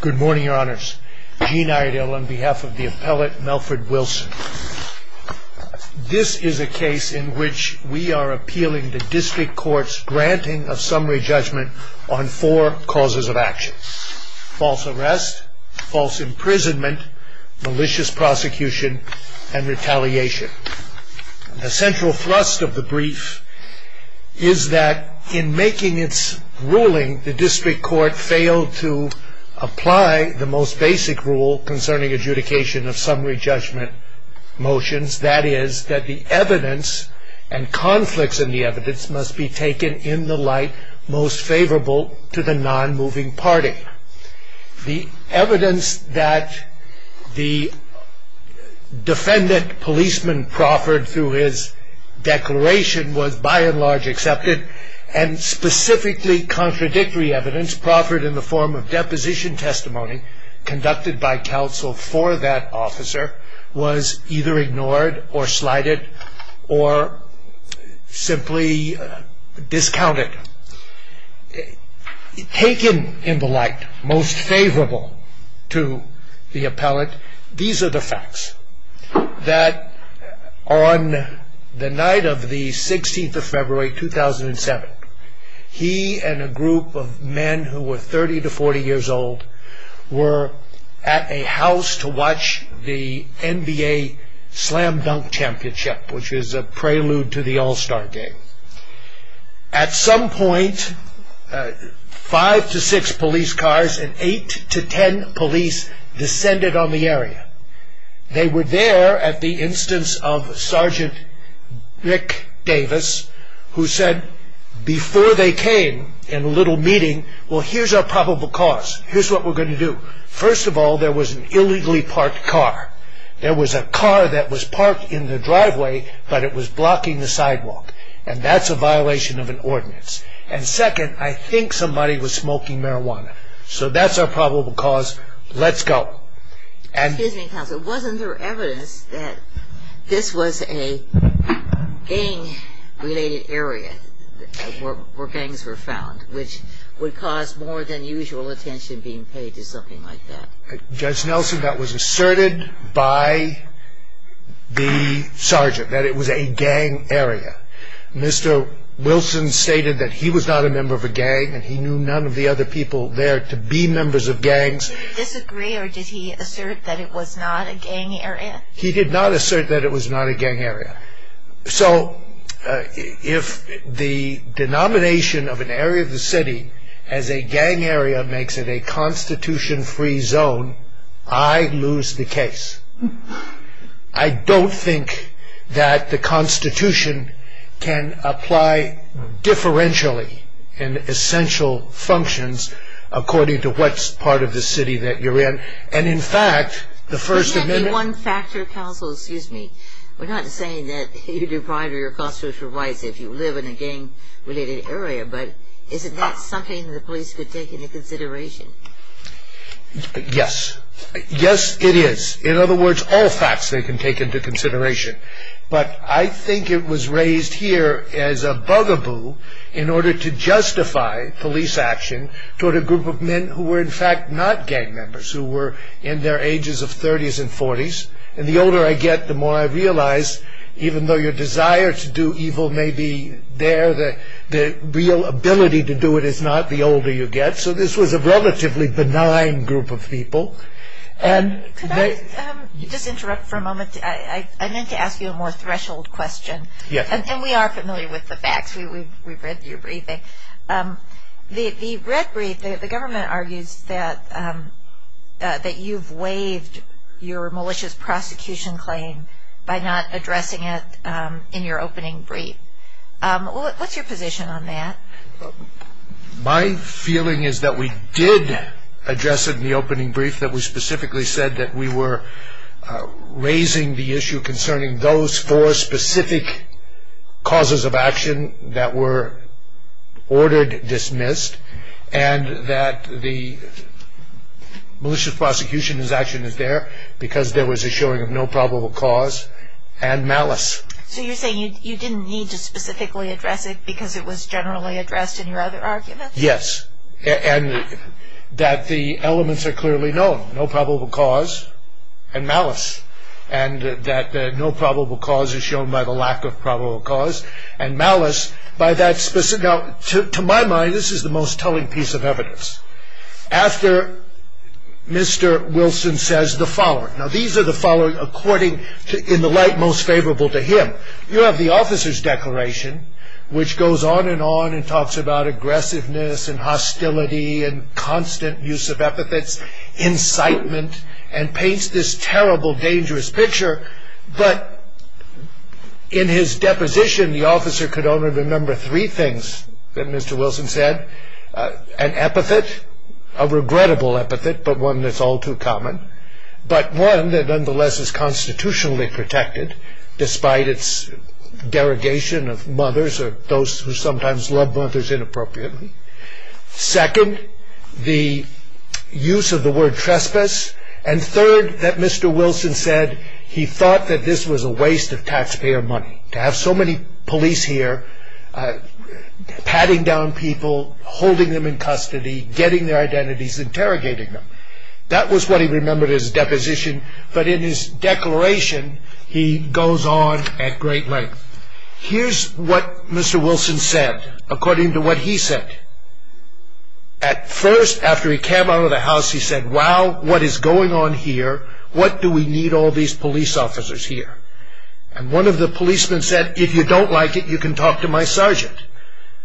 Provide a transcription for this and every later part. Good morning, your honors. Gene Iredell on behalf of the appellate, Melford Wilson. This is a case in which we are appealing the district court's granting of summary judgment on four causes of action. False arrest, false imprisonment, malicious prosecution, and retaliation. The central thrust of the brief is that in making its ruling, the district court failed to apply the most basic rule concerning adjudication of summary judgment motions. That is that the evidence and conflicts in the evidence must be taken in the light most favorable to the non-moving party. The evidence that the defendant policeman proffered through his declaration was by and large accepted, and specifically contradictory evidence proffered in the form of deposition testimony conducted by counsel for that officer was either ignored or slighted or simply discounted. Taken in the light most favorable to the appellate, these are the facts. That on the night of the 16th of February 2007, he and a group of men who were 30 to 40 years old were at a house to watch the NBA Slam Dunk Championship, which is a prelude to the All-Star Game. At some point, five to six police cars and eight to ten police descended on the area. They were there at the instance of Sergeant Rick Davis, who said before they came in a little meeting, well here's our probable cause, here's what we're going to do. First of all, there was an illegally parked car. There was a car that was parked in the driveway, but it was blocking the sidewalk. And that's a violation of an ordinance. And second, I think somebody was smoking marijuana. So that's our probable cause. Let's go. Excuse me, counsel. Wasn't there evidence that this was a gang-related area where gangs were found, which would cause more than usual attention being paid to something like that? Judge Nelson, that was asserted by the sergeant, that it was a gang area. Mr. Wilson stated that he was not a member of a gang and he knew none of the other people there to be members of gangs. Did he disagree or did he assert that it was not a gang area? He did not assert that it was not a gang area. So if the denomination of an area of the city as a gang area makes it a Constitution-free zone, I lose the case. I don't think that the Constitution can apply differentially in essential functions according to what part of the city that you're in. And, in fact, the First Amendment... Could that be one factor, counsel? Excuse me. We're not saying that you do prior to your constitutional rights if you live in a gang-related area, but isn't that something the police could take into consideration? Yes. Yes, it is. In other words, all facts they can take into consideration. But I think it was raised here as a bugaboo in order to justify police action toward a group of men who were, in fact, not gang members, who were in their ages of 30s and 40s. And the older I get, the more I realize, even though your desire to do evil may be there, the real ability to do it is not the older you get. So this was a relatively benign group of people. Could I just interrupt for a moment? I meant to ask you a more threshold question. Yes. And we are familiar with the facts. We've read your briefing. The red brief, the government argues that you've waived your malicious prosecution claim by not addressing it in your opening brief. What's your position on that? My feeling is that we did address it in the opening brief, that we specifically said that we were raising the issue concerning those four specific causes of action that were ordered dismissed and that the malicious prosecution action is there because there was a showing of no probable cause and malice. So you're saying you didn't need to specifically address it because it was generally addressed in your other arguments? Yes. And that the elements are clearly known, no probable cause and malice, and that no probable cause is shown by the lack of probable cause and malice by that specific. Now, to my mind, this is the most telling piece of evidence. After Mr. Wilson says the following. Now, these are the following according in the light most favorable to him. You have the officer's declaration, which goes on and on and talks about aggressiveness and hostility and constant use of epithets, incitement, and paints this terrible, dangerous picture. But in his deposition, the officer could only remember three things that Mr. Wilson said. An epithet, a regrettable epithet, but one that's all too common. But one that nonetheless is constitutionally protected despite its derogation of mothers or those who sometimes love mothers inappropriately. Second, the use of the word trespass. And third, that Mr. Wilson said he thought that this was a waste of taxpayer money to have so many police here patting down people, holding them in custody, getting their identities, interrogating them. That was what he remembered in his deposition, but in his declaration, he goes on at great length. Here's what Mr. Wilson said, according to what he said. At first, after he came out of the house, he said, Wow, what is going on here? What do we need all these police officers here? And one of the policemen said, If you don't like it, you can talk to my sergeant.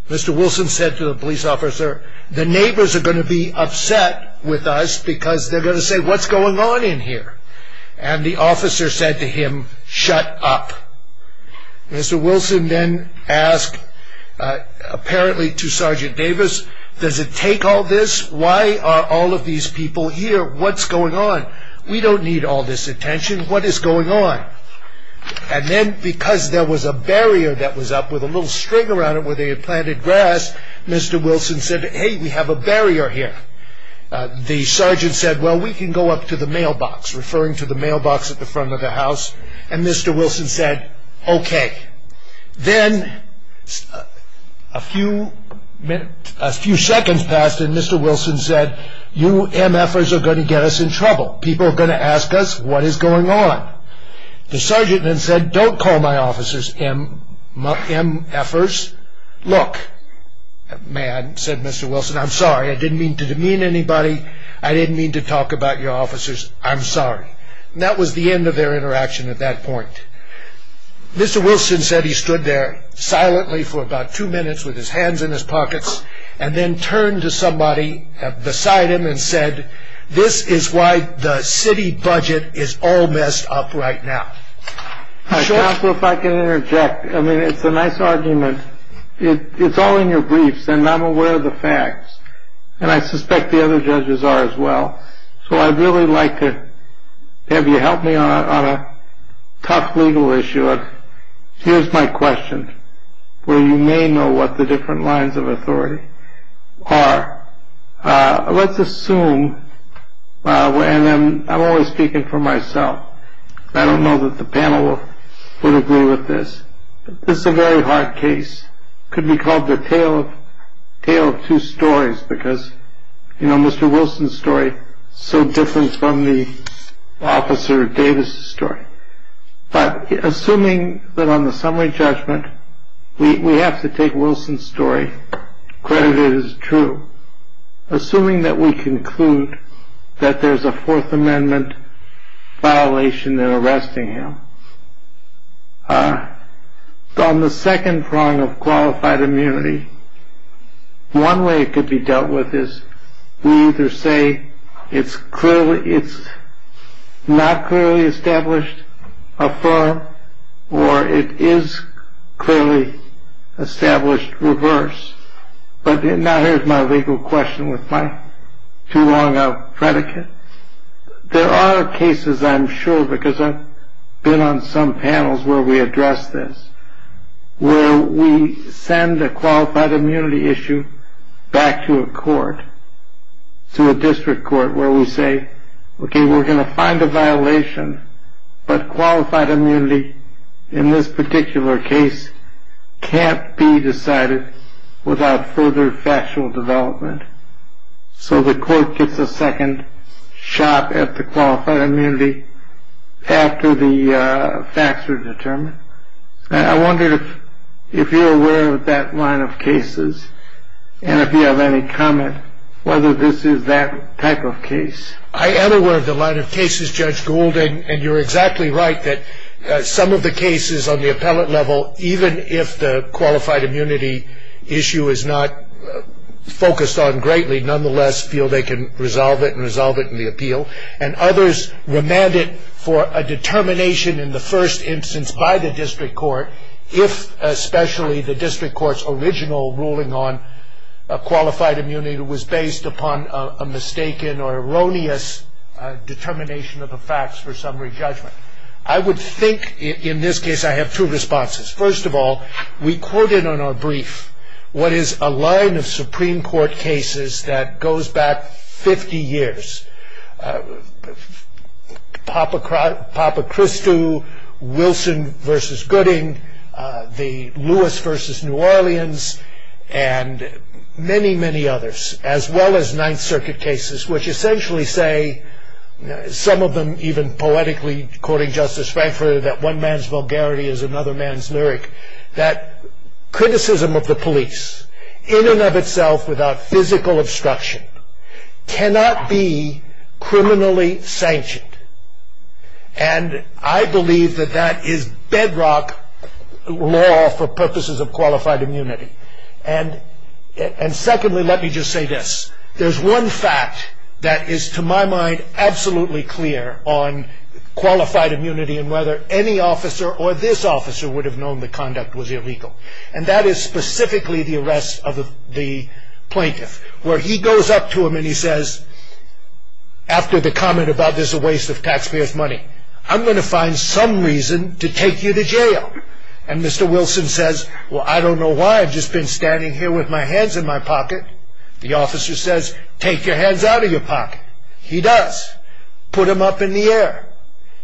Mr. Wilson said to the police officer, The neighbors are going to be upset with us because they're going to say, What's going on in here? And the officer said to him, Shut up. Mr. Wilson then asked, apparently to Sergeant Davis, Does it take all this? Why are all of these people here? What's going on? We don't need all this attention. What is going on? And then, because there was a barrier that was up with a little string around it where they had planted grass, Mr. Wilson said, Hey, we have a barrier here. The sergeant said, Well, we can go up to the mailbox, referring to the mailbox at the front of the house. And Mr. Wilson said, Okay. Then a few seconds passed, and Mr. Wilson said, You MFers are going to get us in trouble. People are going to ask us what is going on. The sergeant then said, Don't call my officers MFers. Look, man, said Mr. Wilson, I'm sorry. I didn't mean to demean anybody. I didn't mean to talk about your officers. I'm sorry. That was the end of their interaction at that point. Mr. Wilson said he stood there silently for about two minutes with his hands in his pockets and then turned to somebody beside him and said, This is why the city budget is all messed up right now. Counselor, if I can interject. I mean, it's a nice argument. It's all in your briefs, and I'm aware of the facts, and I suspect the other judges are as well. So I'd really like to have you help me on a tough legal issue. Here's my question. Well, you may know what the different lines of authority are. Let's assume I'm always speaking for myself. I don't know that the panel will agree with this. This is a very hard case. Could be called the tale of two stories because, you know, Mr. Wilson's story so different from the officer Davis story. But assuming that on the summary judgment, we have to take Wilson's story credit is true. Assuming that we conclude that there's a Fourth Amendment violation in arresting him on the second prong of qualified immunity. One way it could be dealt with is we either say it's clearly it's not clearly established a firm or it is clearly established reverse. But now here's my legal question with my too long a predicate. There are cases, I'm sure, because I've been on some panels where we address this, where we send a qualified immunity issue back to a court to a district court where we say, OK, we're going to find a violation. But qualified immunity in this particular case can't be decided without further factual development. So the court gets a second shot at the qualified immunity after the facts are determined. I wonder if you're aware of that line of cases and if you have any comment, whether this is that type of case. I am aware of the line of cases, Judge Goulding. And you're exactly right that some of the cases on the appellate level, even if the qualified immunity issue is not focused on greatly, nonetheless, feel they can resolve it and resolve it in the appeal. And others remand it for a determination in the first instance by the district court, if especially the district court's original ruling on qualified immunity was based upon a mistaken or erroneous determination of the facts for summary judgment. I would think in this case I have two responses. First of all, we quoted on our brief what is a line of Supreme Court cases that goes back 50 years. Papa Christou, Wilson v. Gooding, the Lewis v. New Orleans, and many, many others, as well as Ninth Circuit cases, which essentially say, some of them even poetically, quoting Justice Frankfurter, that one man's vulgarity is another man's lyric, that criticism of the police in and of itself without physical obstruction cannot be criminally sanctioned. And I believe that that is bedrock law for purposes of qualified immunity. And secondly, let me just say this. There's one fact that is, to my mind, absolutely clear on qualified immunity and whether any officer or this officer would have known the conduct was illegal, and that is specifically the arrest of the plaintiff, where he goes up to him and he says, after the comment about this a waste of taxpayers' money, I'm going to find some reason to take you to jail. And Mr. Wilson says, well, I don't know why. I've just been standing here with my hands in my pocket. The officer says, take your hands out of your pocket. He does. Put him up in the air.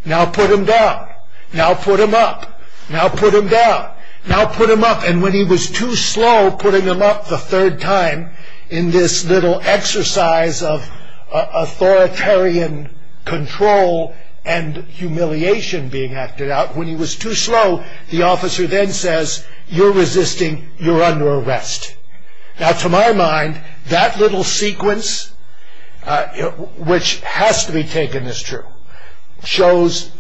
Now put him down. Now put him up. Now put him down. Now put him up. And when he was too slow putting him up the third time in this little exercise of authoritarian control and humiliation being acted out, when he was too slow, the officer then says, you're resisting, you're under arrest. Now, to my mind, that little sequence, which has to be taken as true, shows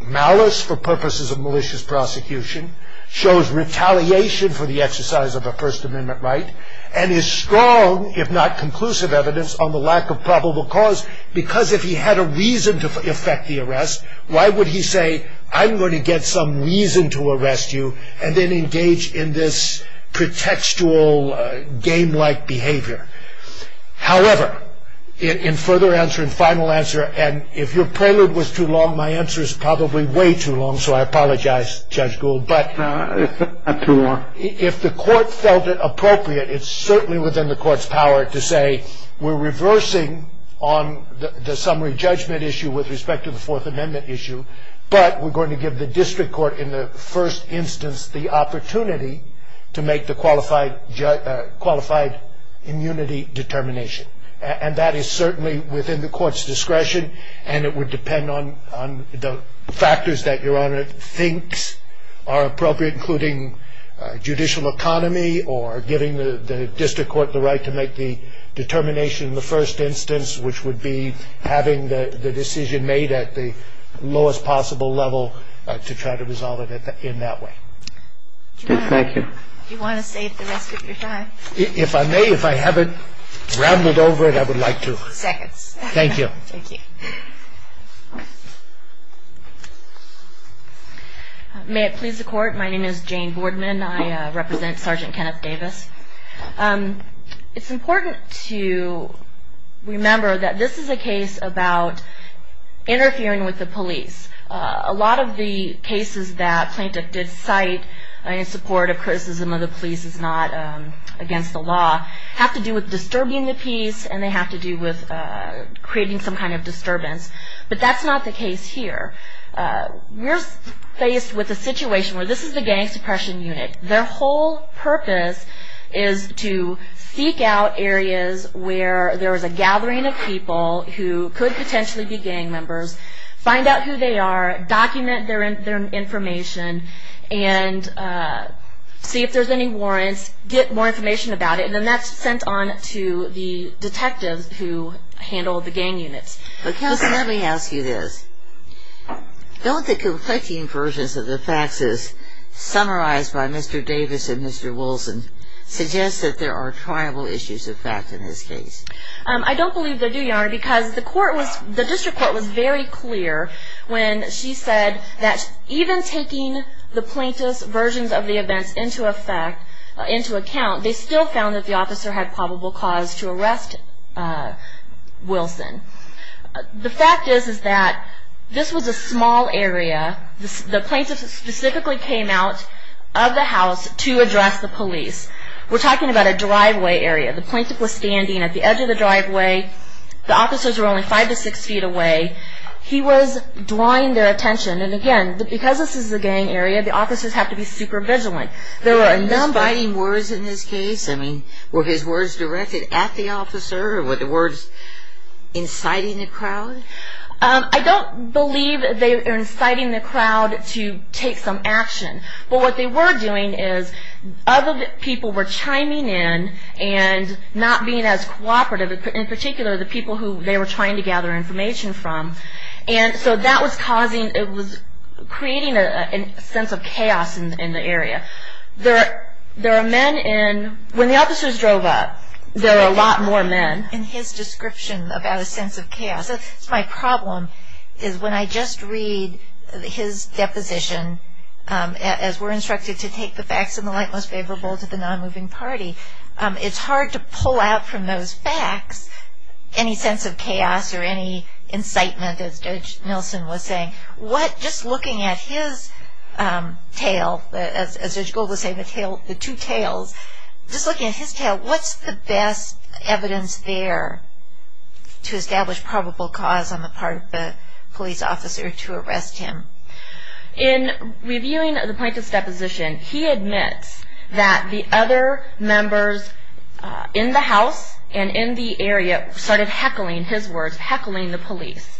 malice for purposes of malicious prosecution, shows retaliation for the exercise of a First Amendment right, and is strong, if not conclusive evidence, on the lack of probable cause, because if he had a reason to effect the arrest, why would he say, I'm going to get some reason to arrest you, and then engage in this pretextual game-like behavior? However, in further answer and final answer, and if your prelude was too long, my answer is probably way too long, so I apologize, Judge Gould. No, it's not too long. If the court felt it appropriate, it's certainly within the court's power to say, we're reversing on the summary judgment issue with respect to the Fourth Amendment issue, but we're going to give the district court in the first instance the opportunity to make the qualified immunity determination, and that is certainly within the court's discretion, and it would depend on the factors that your Honor thinks are appropriate, including judicial economy, or giving the district court the right to make the determination in the first instance, which would be having the decision made at the lowest possible level to try to resolve it in that way. Thank you. Do you want to save the rest of your time? If I may, if I haven't rambled over it, I would like to. Seconds. Thank you. May it please the Court, my name is Jane Boardman, I represent Sergeant Kenneth Davis. It's important to remember that this is a case about interfering with the police. A lot of the cases that Plaintiff did cite in support of criticism of the police as not against the law have to do with disturbing the peace, and they have to do with creating some kind of disturbance, but that's not the case here. We're faced with a situation where this is the gang suppression unit. Their whole purpose is to seek out areas where there is a gathering of people who could potentially be gang members, find out who they are, document their information, and see if there's any warrants, get more information about it, and then that's sent on to the detectives who handle the gang units. Counsel, let me ask you this. Don't the conflicting versions of the faxes summarized by Mr. Davis and Mr. Wilson suggest that there are tribal issues of fact in this case? I don't believe they do, Your Honor, because the District Court was very clear when she said that even taking the Plaintiff's versions of the events into account, they still found that the officer had probable cause to arrest Wilson. The fact is that this was a small area. The Plaintiff specifically came out of the house to address the police. We're talking about a driveway area. The Plaintiff was standing at the edge of the driveway. The officers were only five to six feet away. He was drawing their attention, and again, because this is a gang area, the officers have to be super vigilant. Were there misbinding words in this case? I mean, were his words directed at the officer? Were the words inciting the crowd? I don't believe they were inciting the crowd to take some action, but what they were doing is other people were chiming in and not being as cooperative, in particular the people who they were trying to gather information from. And so that was causing, it was creating a sense of chaos in the area. There are men in, when the officers drove up, there were a lot more men. And his description about a sense of chaos. My problem is when I just read his deposition, as we're instructed to take the facts in the light most favorable to the nonmoving party, it's hard to pull out from those facts any sense of chaos or any incitement, as Judge Nilsen was saying. What, just looking at his tale, as Judge Gold was saying, the two tales, just looking at his tale, what's the best evidence there to establish probable cause on the part of the police officer to arrest him? In reviewing the plaintiff's deposition, he admits that the other members in the house and in the area started heckling, his words, heckling the police.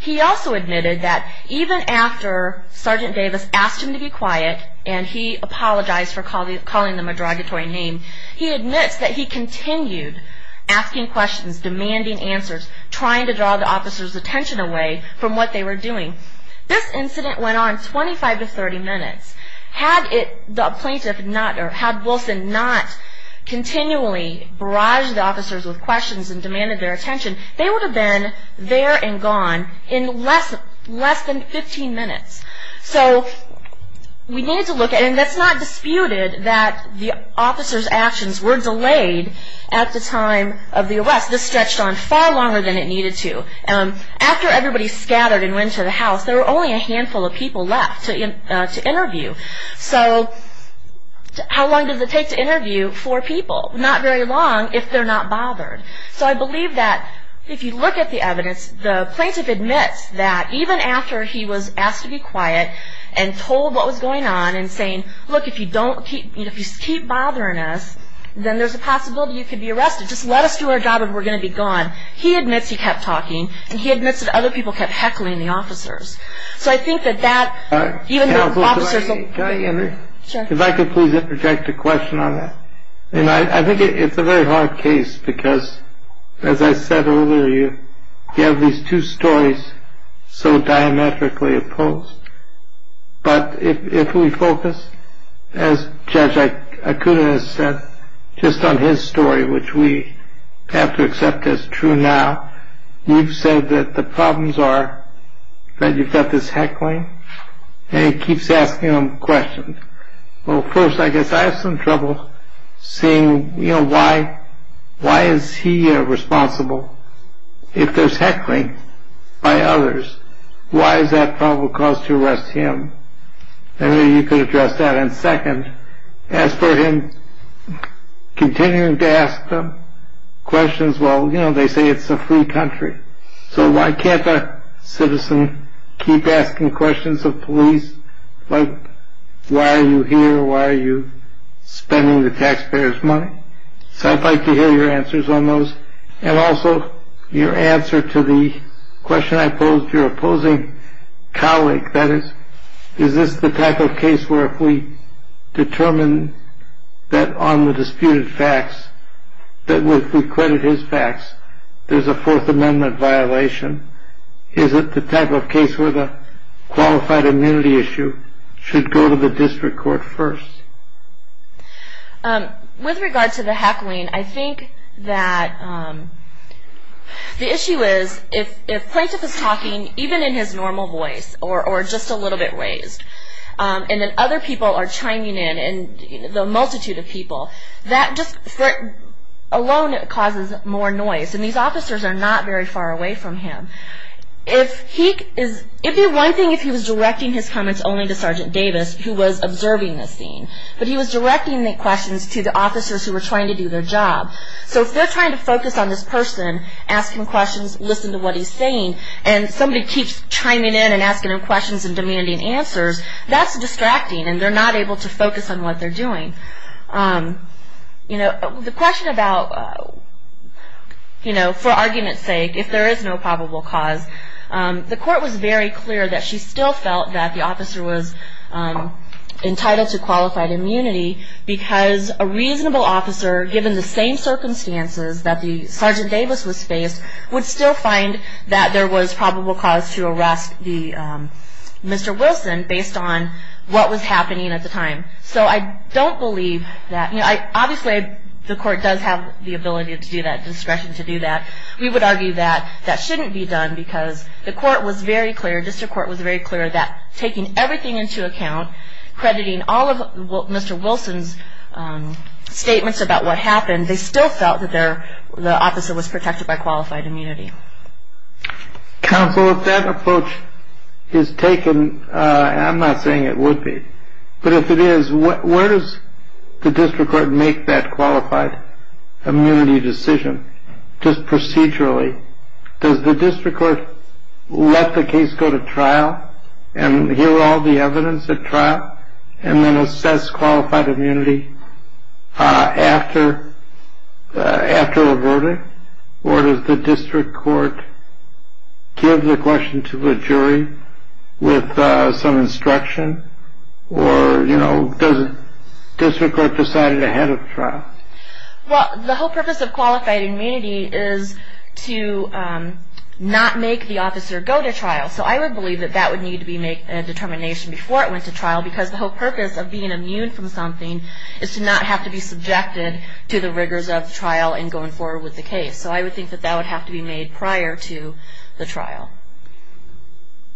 He also admitted that even after Sergeant Davis asked him to be quiet, and he apologized for calling them a derogatory name, he admits that he continued asking questions, demanding answers, trying to draw the officers' attention away from what they were doing. This incident went on 25 to 30 minutes. Had the plaintiff not, or had Wilson not continually barraged the officers with questions and demanded their attention, they would have been there and gone in less than 15 minutes. So we need to look at, and it's not disputed that the officers' actions were delayed at the time of the arrest. This stretched on far longer than it needed to. After everybody scattered and went to the house, there were only a handful of people left to interview. So how long does it take to interview four people? Not very long if they're not bothered. So I believe that if you look at the evidence, the plaintiff admits that even after he was asked to be quiet and told what was going on and saying, look, if you keep bothering us, then there's a possibility you could be arrested. Just let us do our job and we're going to be gone. He admits he kept talking, and he admits that other people kept heckling the officers. So I think that that, even the officers... If I could please interject a question on that. I think it's a very hard case because, as I said earlier, you have these two stories so diametrically opposed. But if we focus, as Judge Akuda has said, just on his story, which we have to accept as true now, you've said that the problems are that you've got this heckling, and it keeps asking him questions. Well, first, I guess I have some trouble seeing, you know, why is he responsible if there's heckling by others? Why is that probable cause to arrest him? Maybe you could address that. And second, as for him continuing to ask them questions, well, you know, they say it's a free country. So why can't a citizen keep asking questions of police? Like, why are you here? Why are you spending the taxpayers' money? So I'd like to hear your answers on those. And also, your answer to the question I posed to your opposing colleague, that is, is this the type of case where if we determine that on the disputed facts, that if we credit his facts, there's a Fourth Amendment violation? Is it the type of case where the qualified immunity issue should go to the district court first? With regard to the heckling, I think that the issue is, if Plaintiff is talking, even in his normal voice, or just a little bit raised, and then other people are chiming in, and the multitude of people, that just alone causes more noise. And these officers are not very far away from him. It would be one thing if he was directing his comments only to Sergeant Davis, who was observing the scene. But he was directing the questions to the officers who were trying to do their job. So if they're trying to focus on this person, ask him questions, listen to what he's saying, and somebody keeps chiming in and asking him questions and demanding answers, that's distracting, and they're not able to focus on what they're doing. The question about, for argument's sake, if there is no probable cause, the court was very clear that she still felt that the officer was entitled to qualified immunity, because a reasonable officer, given the same circumstances that Sergeant Davis was faced, would still find that there was probable cause to arrest Mr. Wilson, based on what was happening at the time. So I don't believe that. Obviously, the court does have the ability to do that, discretion to do that. We would argue that that shouldn't be done, because the court was very clear, district court was very clear that taking everything into account, crediting all of Mr. Wilson's statements about what happened, they still felt that the officer was protected by qualified immunity. Counsel, if that approach is taken, I'm not saying it would be. But if it is, where does the district court make that qualified immunity decision, just procedurally? Does the district court let the case go to trial and hear all the evidence at trial and then assess qualified immunity after a verdict? Or does the district court give the question to the jury with some instruction? Or does the district court decide it ahead of trial? Well, the whole purpose of qualified immunity is to not make the officer go to trial. So I would believe that that would need to be made a determination before it went to trial, because the whole purpose of being immune from something is to not have to be subjected to the rigors of trial and going forward with the case. So I would think that that would have to be made prior to the trial.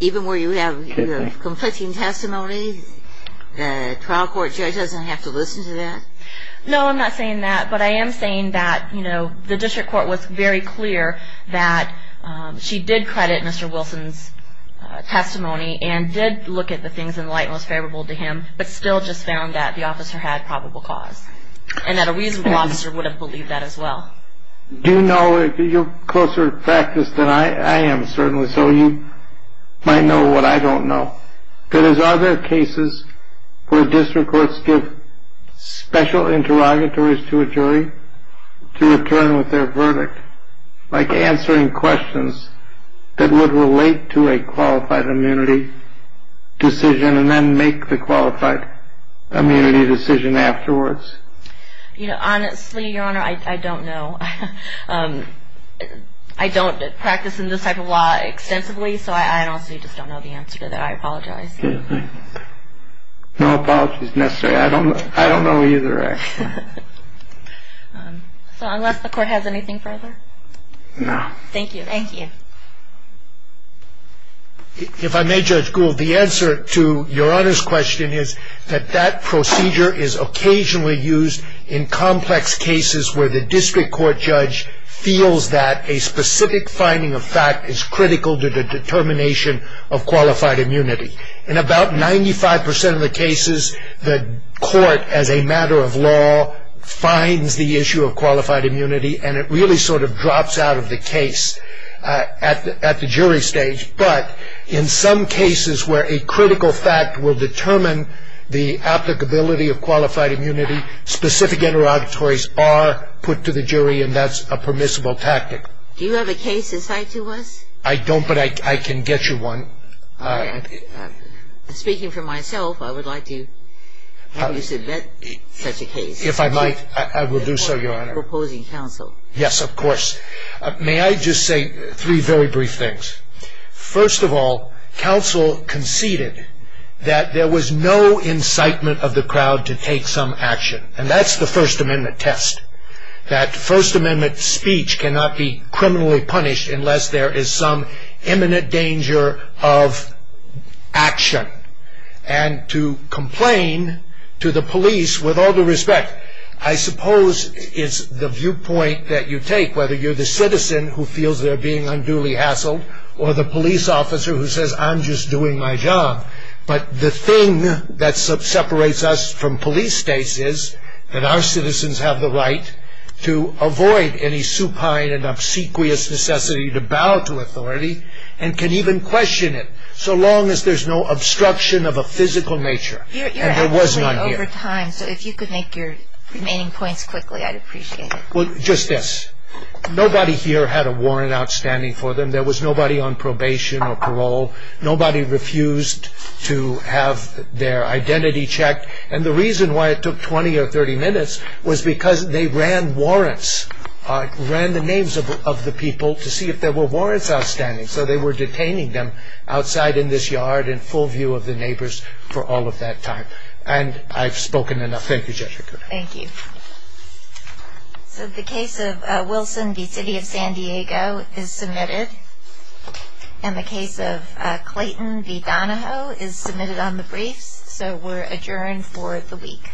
Even where you have conflicting testimony, the trial court judge doesn't have to listen to that? No, I'm not saying that. But I am saying that, you know, the district court was very clear that she did credit Mr. Wilson's testimony and did look at the things in light and was favorable to him, but still just found that the officer had probable cause and that a reasonable officer would have believed that as well. Do you know, you're closer to practice than I am, certainly, so you might know what I don't know. But are there cases where district courts give special interrogatories to a jury to return with their verdict, like answering questions that would relate to a qualified immunity decision and then make the qualified immunity decision afterwards? You know, honestly, Your Honor, I don't know. I don't practice in this type of law extensively, so I honestly just don't know the answer to that. I apologize. No apologies necessary. I don't know either, actually. So unless the court has anything further? No. Thank you. Thank you. If I may, Judge Gould, the answer to Your Honor's question is that that procedure is occasionally used in complex cases where the district court judge feels that a specific finding of fact is critical to the determination of qualified immunity. In about 95% of the cases, the court, as a matter of law, finds the issue of qualified immunity and it really sort of drops out of the case at the jury stage. But in some cases where a critical fact will determine the applicability of qualified immunity, specific interrogatories are put to the jury and that's a permissible tactic. Do you have a case in sight to us? I don't, but I can get you one. All right. Speaking for myself, I would like to have you submit such a case. If I might, I will do so, Your Honor. Yes, of course. May I just say three very brief things? First of all, counsel conceded that there was no incitement of the crowd to take some action. And that's the First Amendment test. That First Amendment speech cannot be criminally punished unless there is some imminent danger of action. And to complain to the police with all due respect, I suppose it's the viewpoint that you take, whether you're the citizen who feels they're being unduly hassled or the police officer who says, I'm just doing my job. But the thing that separates us from police states is that our citizens have the right to avoid any supine and obsequious necessity to bow to authority and can even question it so long as there's no obstruction of a physical nature. You're halfway over time, so if you could make your remaining points quickly, I'd appreciate it. Well, just this. Nobody here had a warrant outstanding for them. There was nobody on probation or parole. Nobody refused to have their identity checked. And the reason why it took 20 or 30 minutes was because they ran warrants, ran the names of the people to see if there were warrants outstanding. So they were detaining them outside in this yard in full view of the neighbors for all of that time. And I've spoken enough. Thank you, Jessica. Thank you. So the case of Wilson v. City of San Diego is submitted. And the case of Clayton v. Donahoe is submitted on the briefs. So we're adjourned for the week.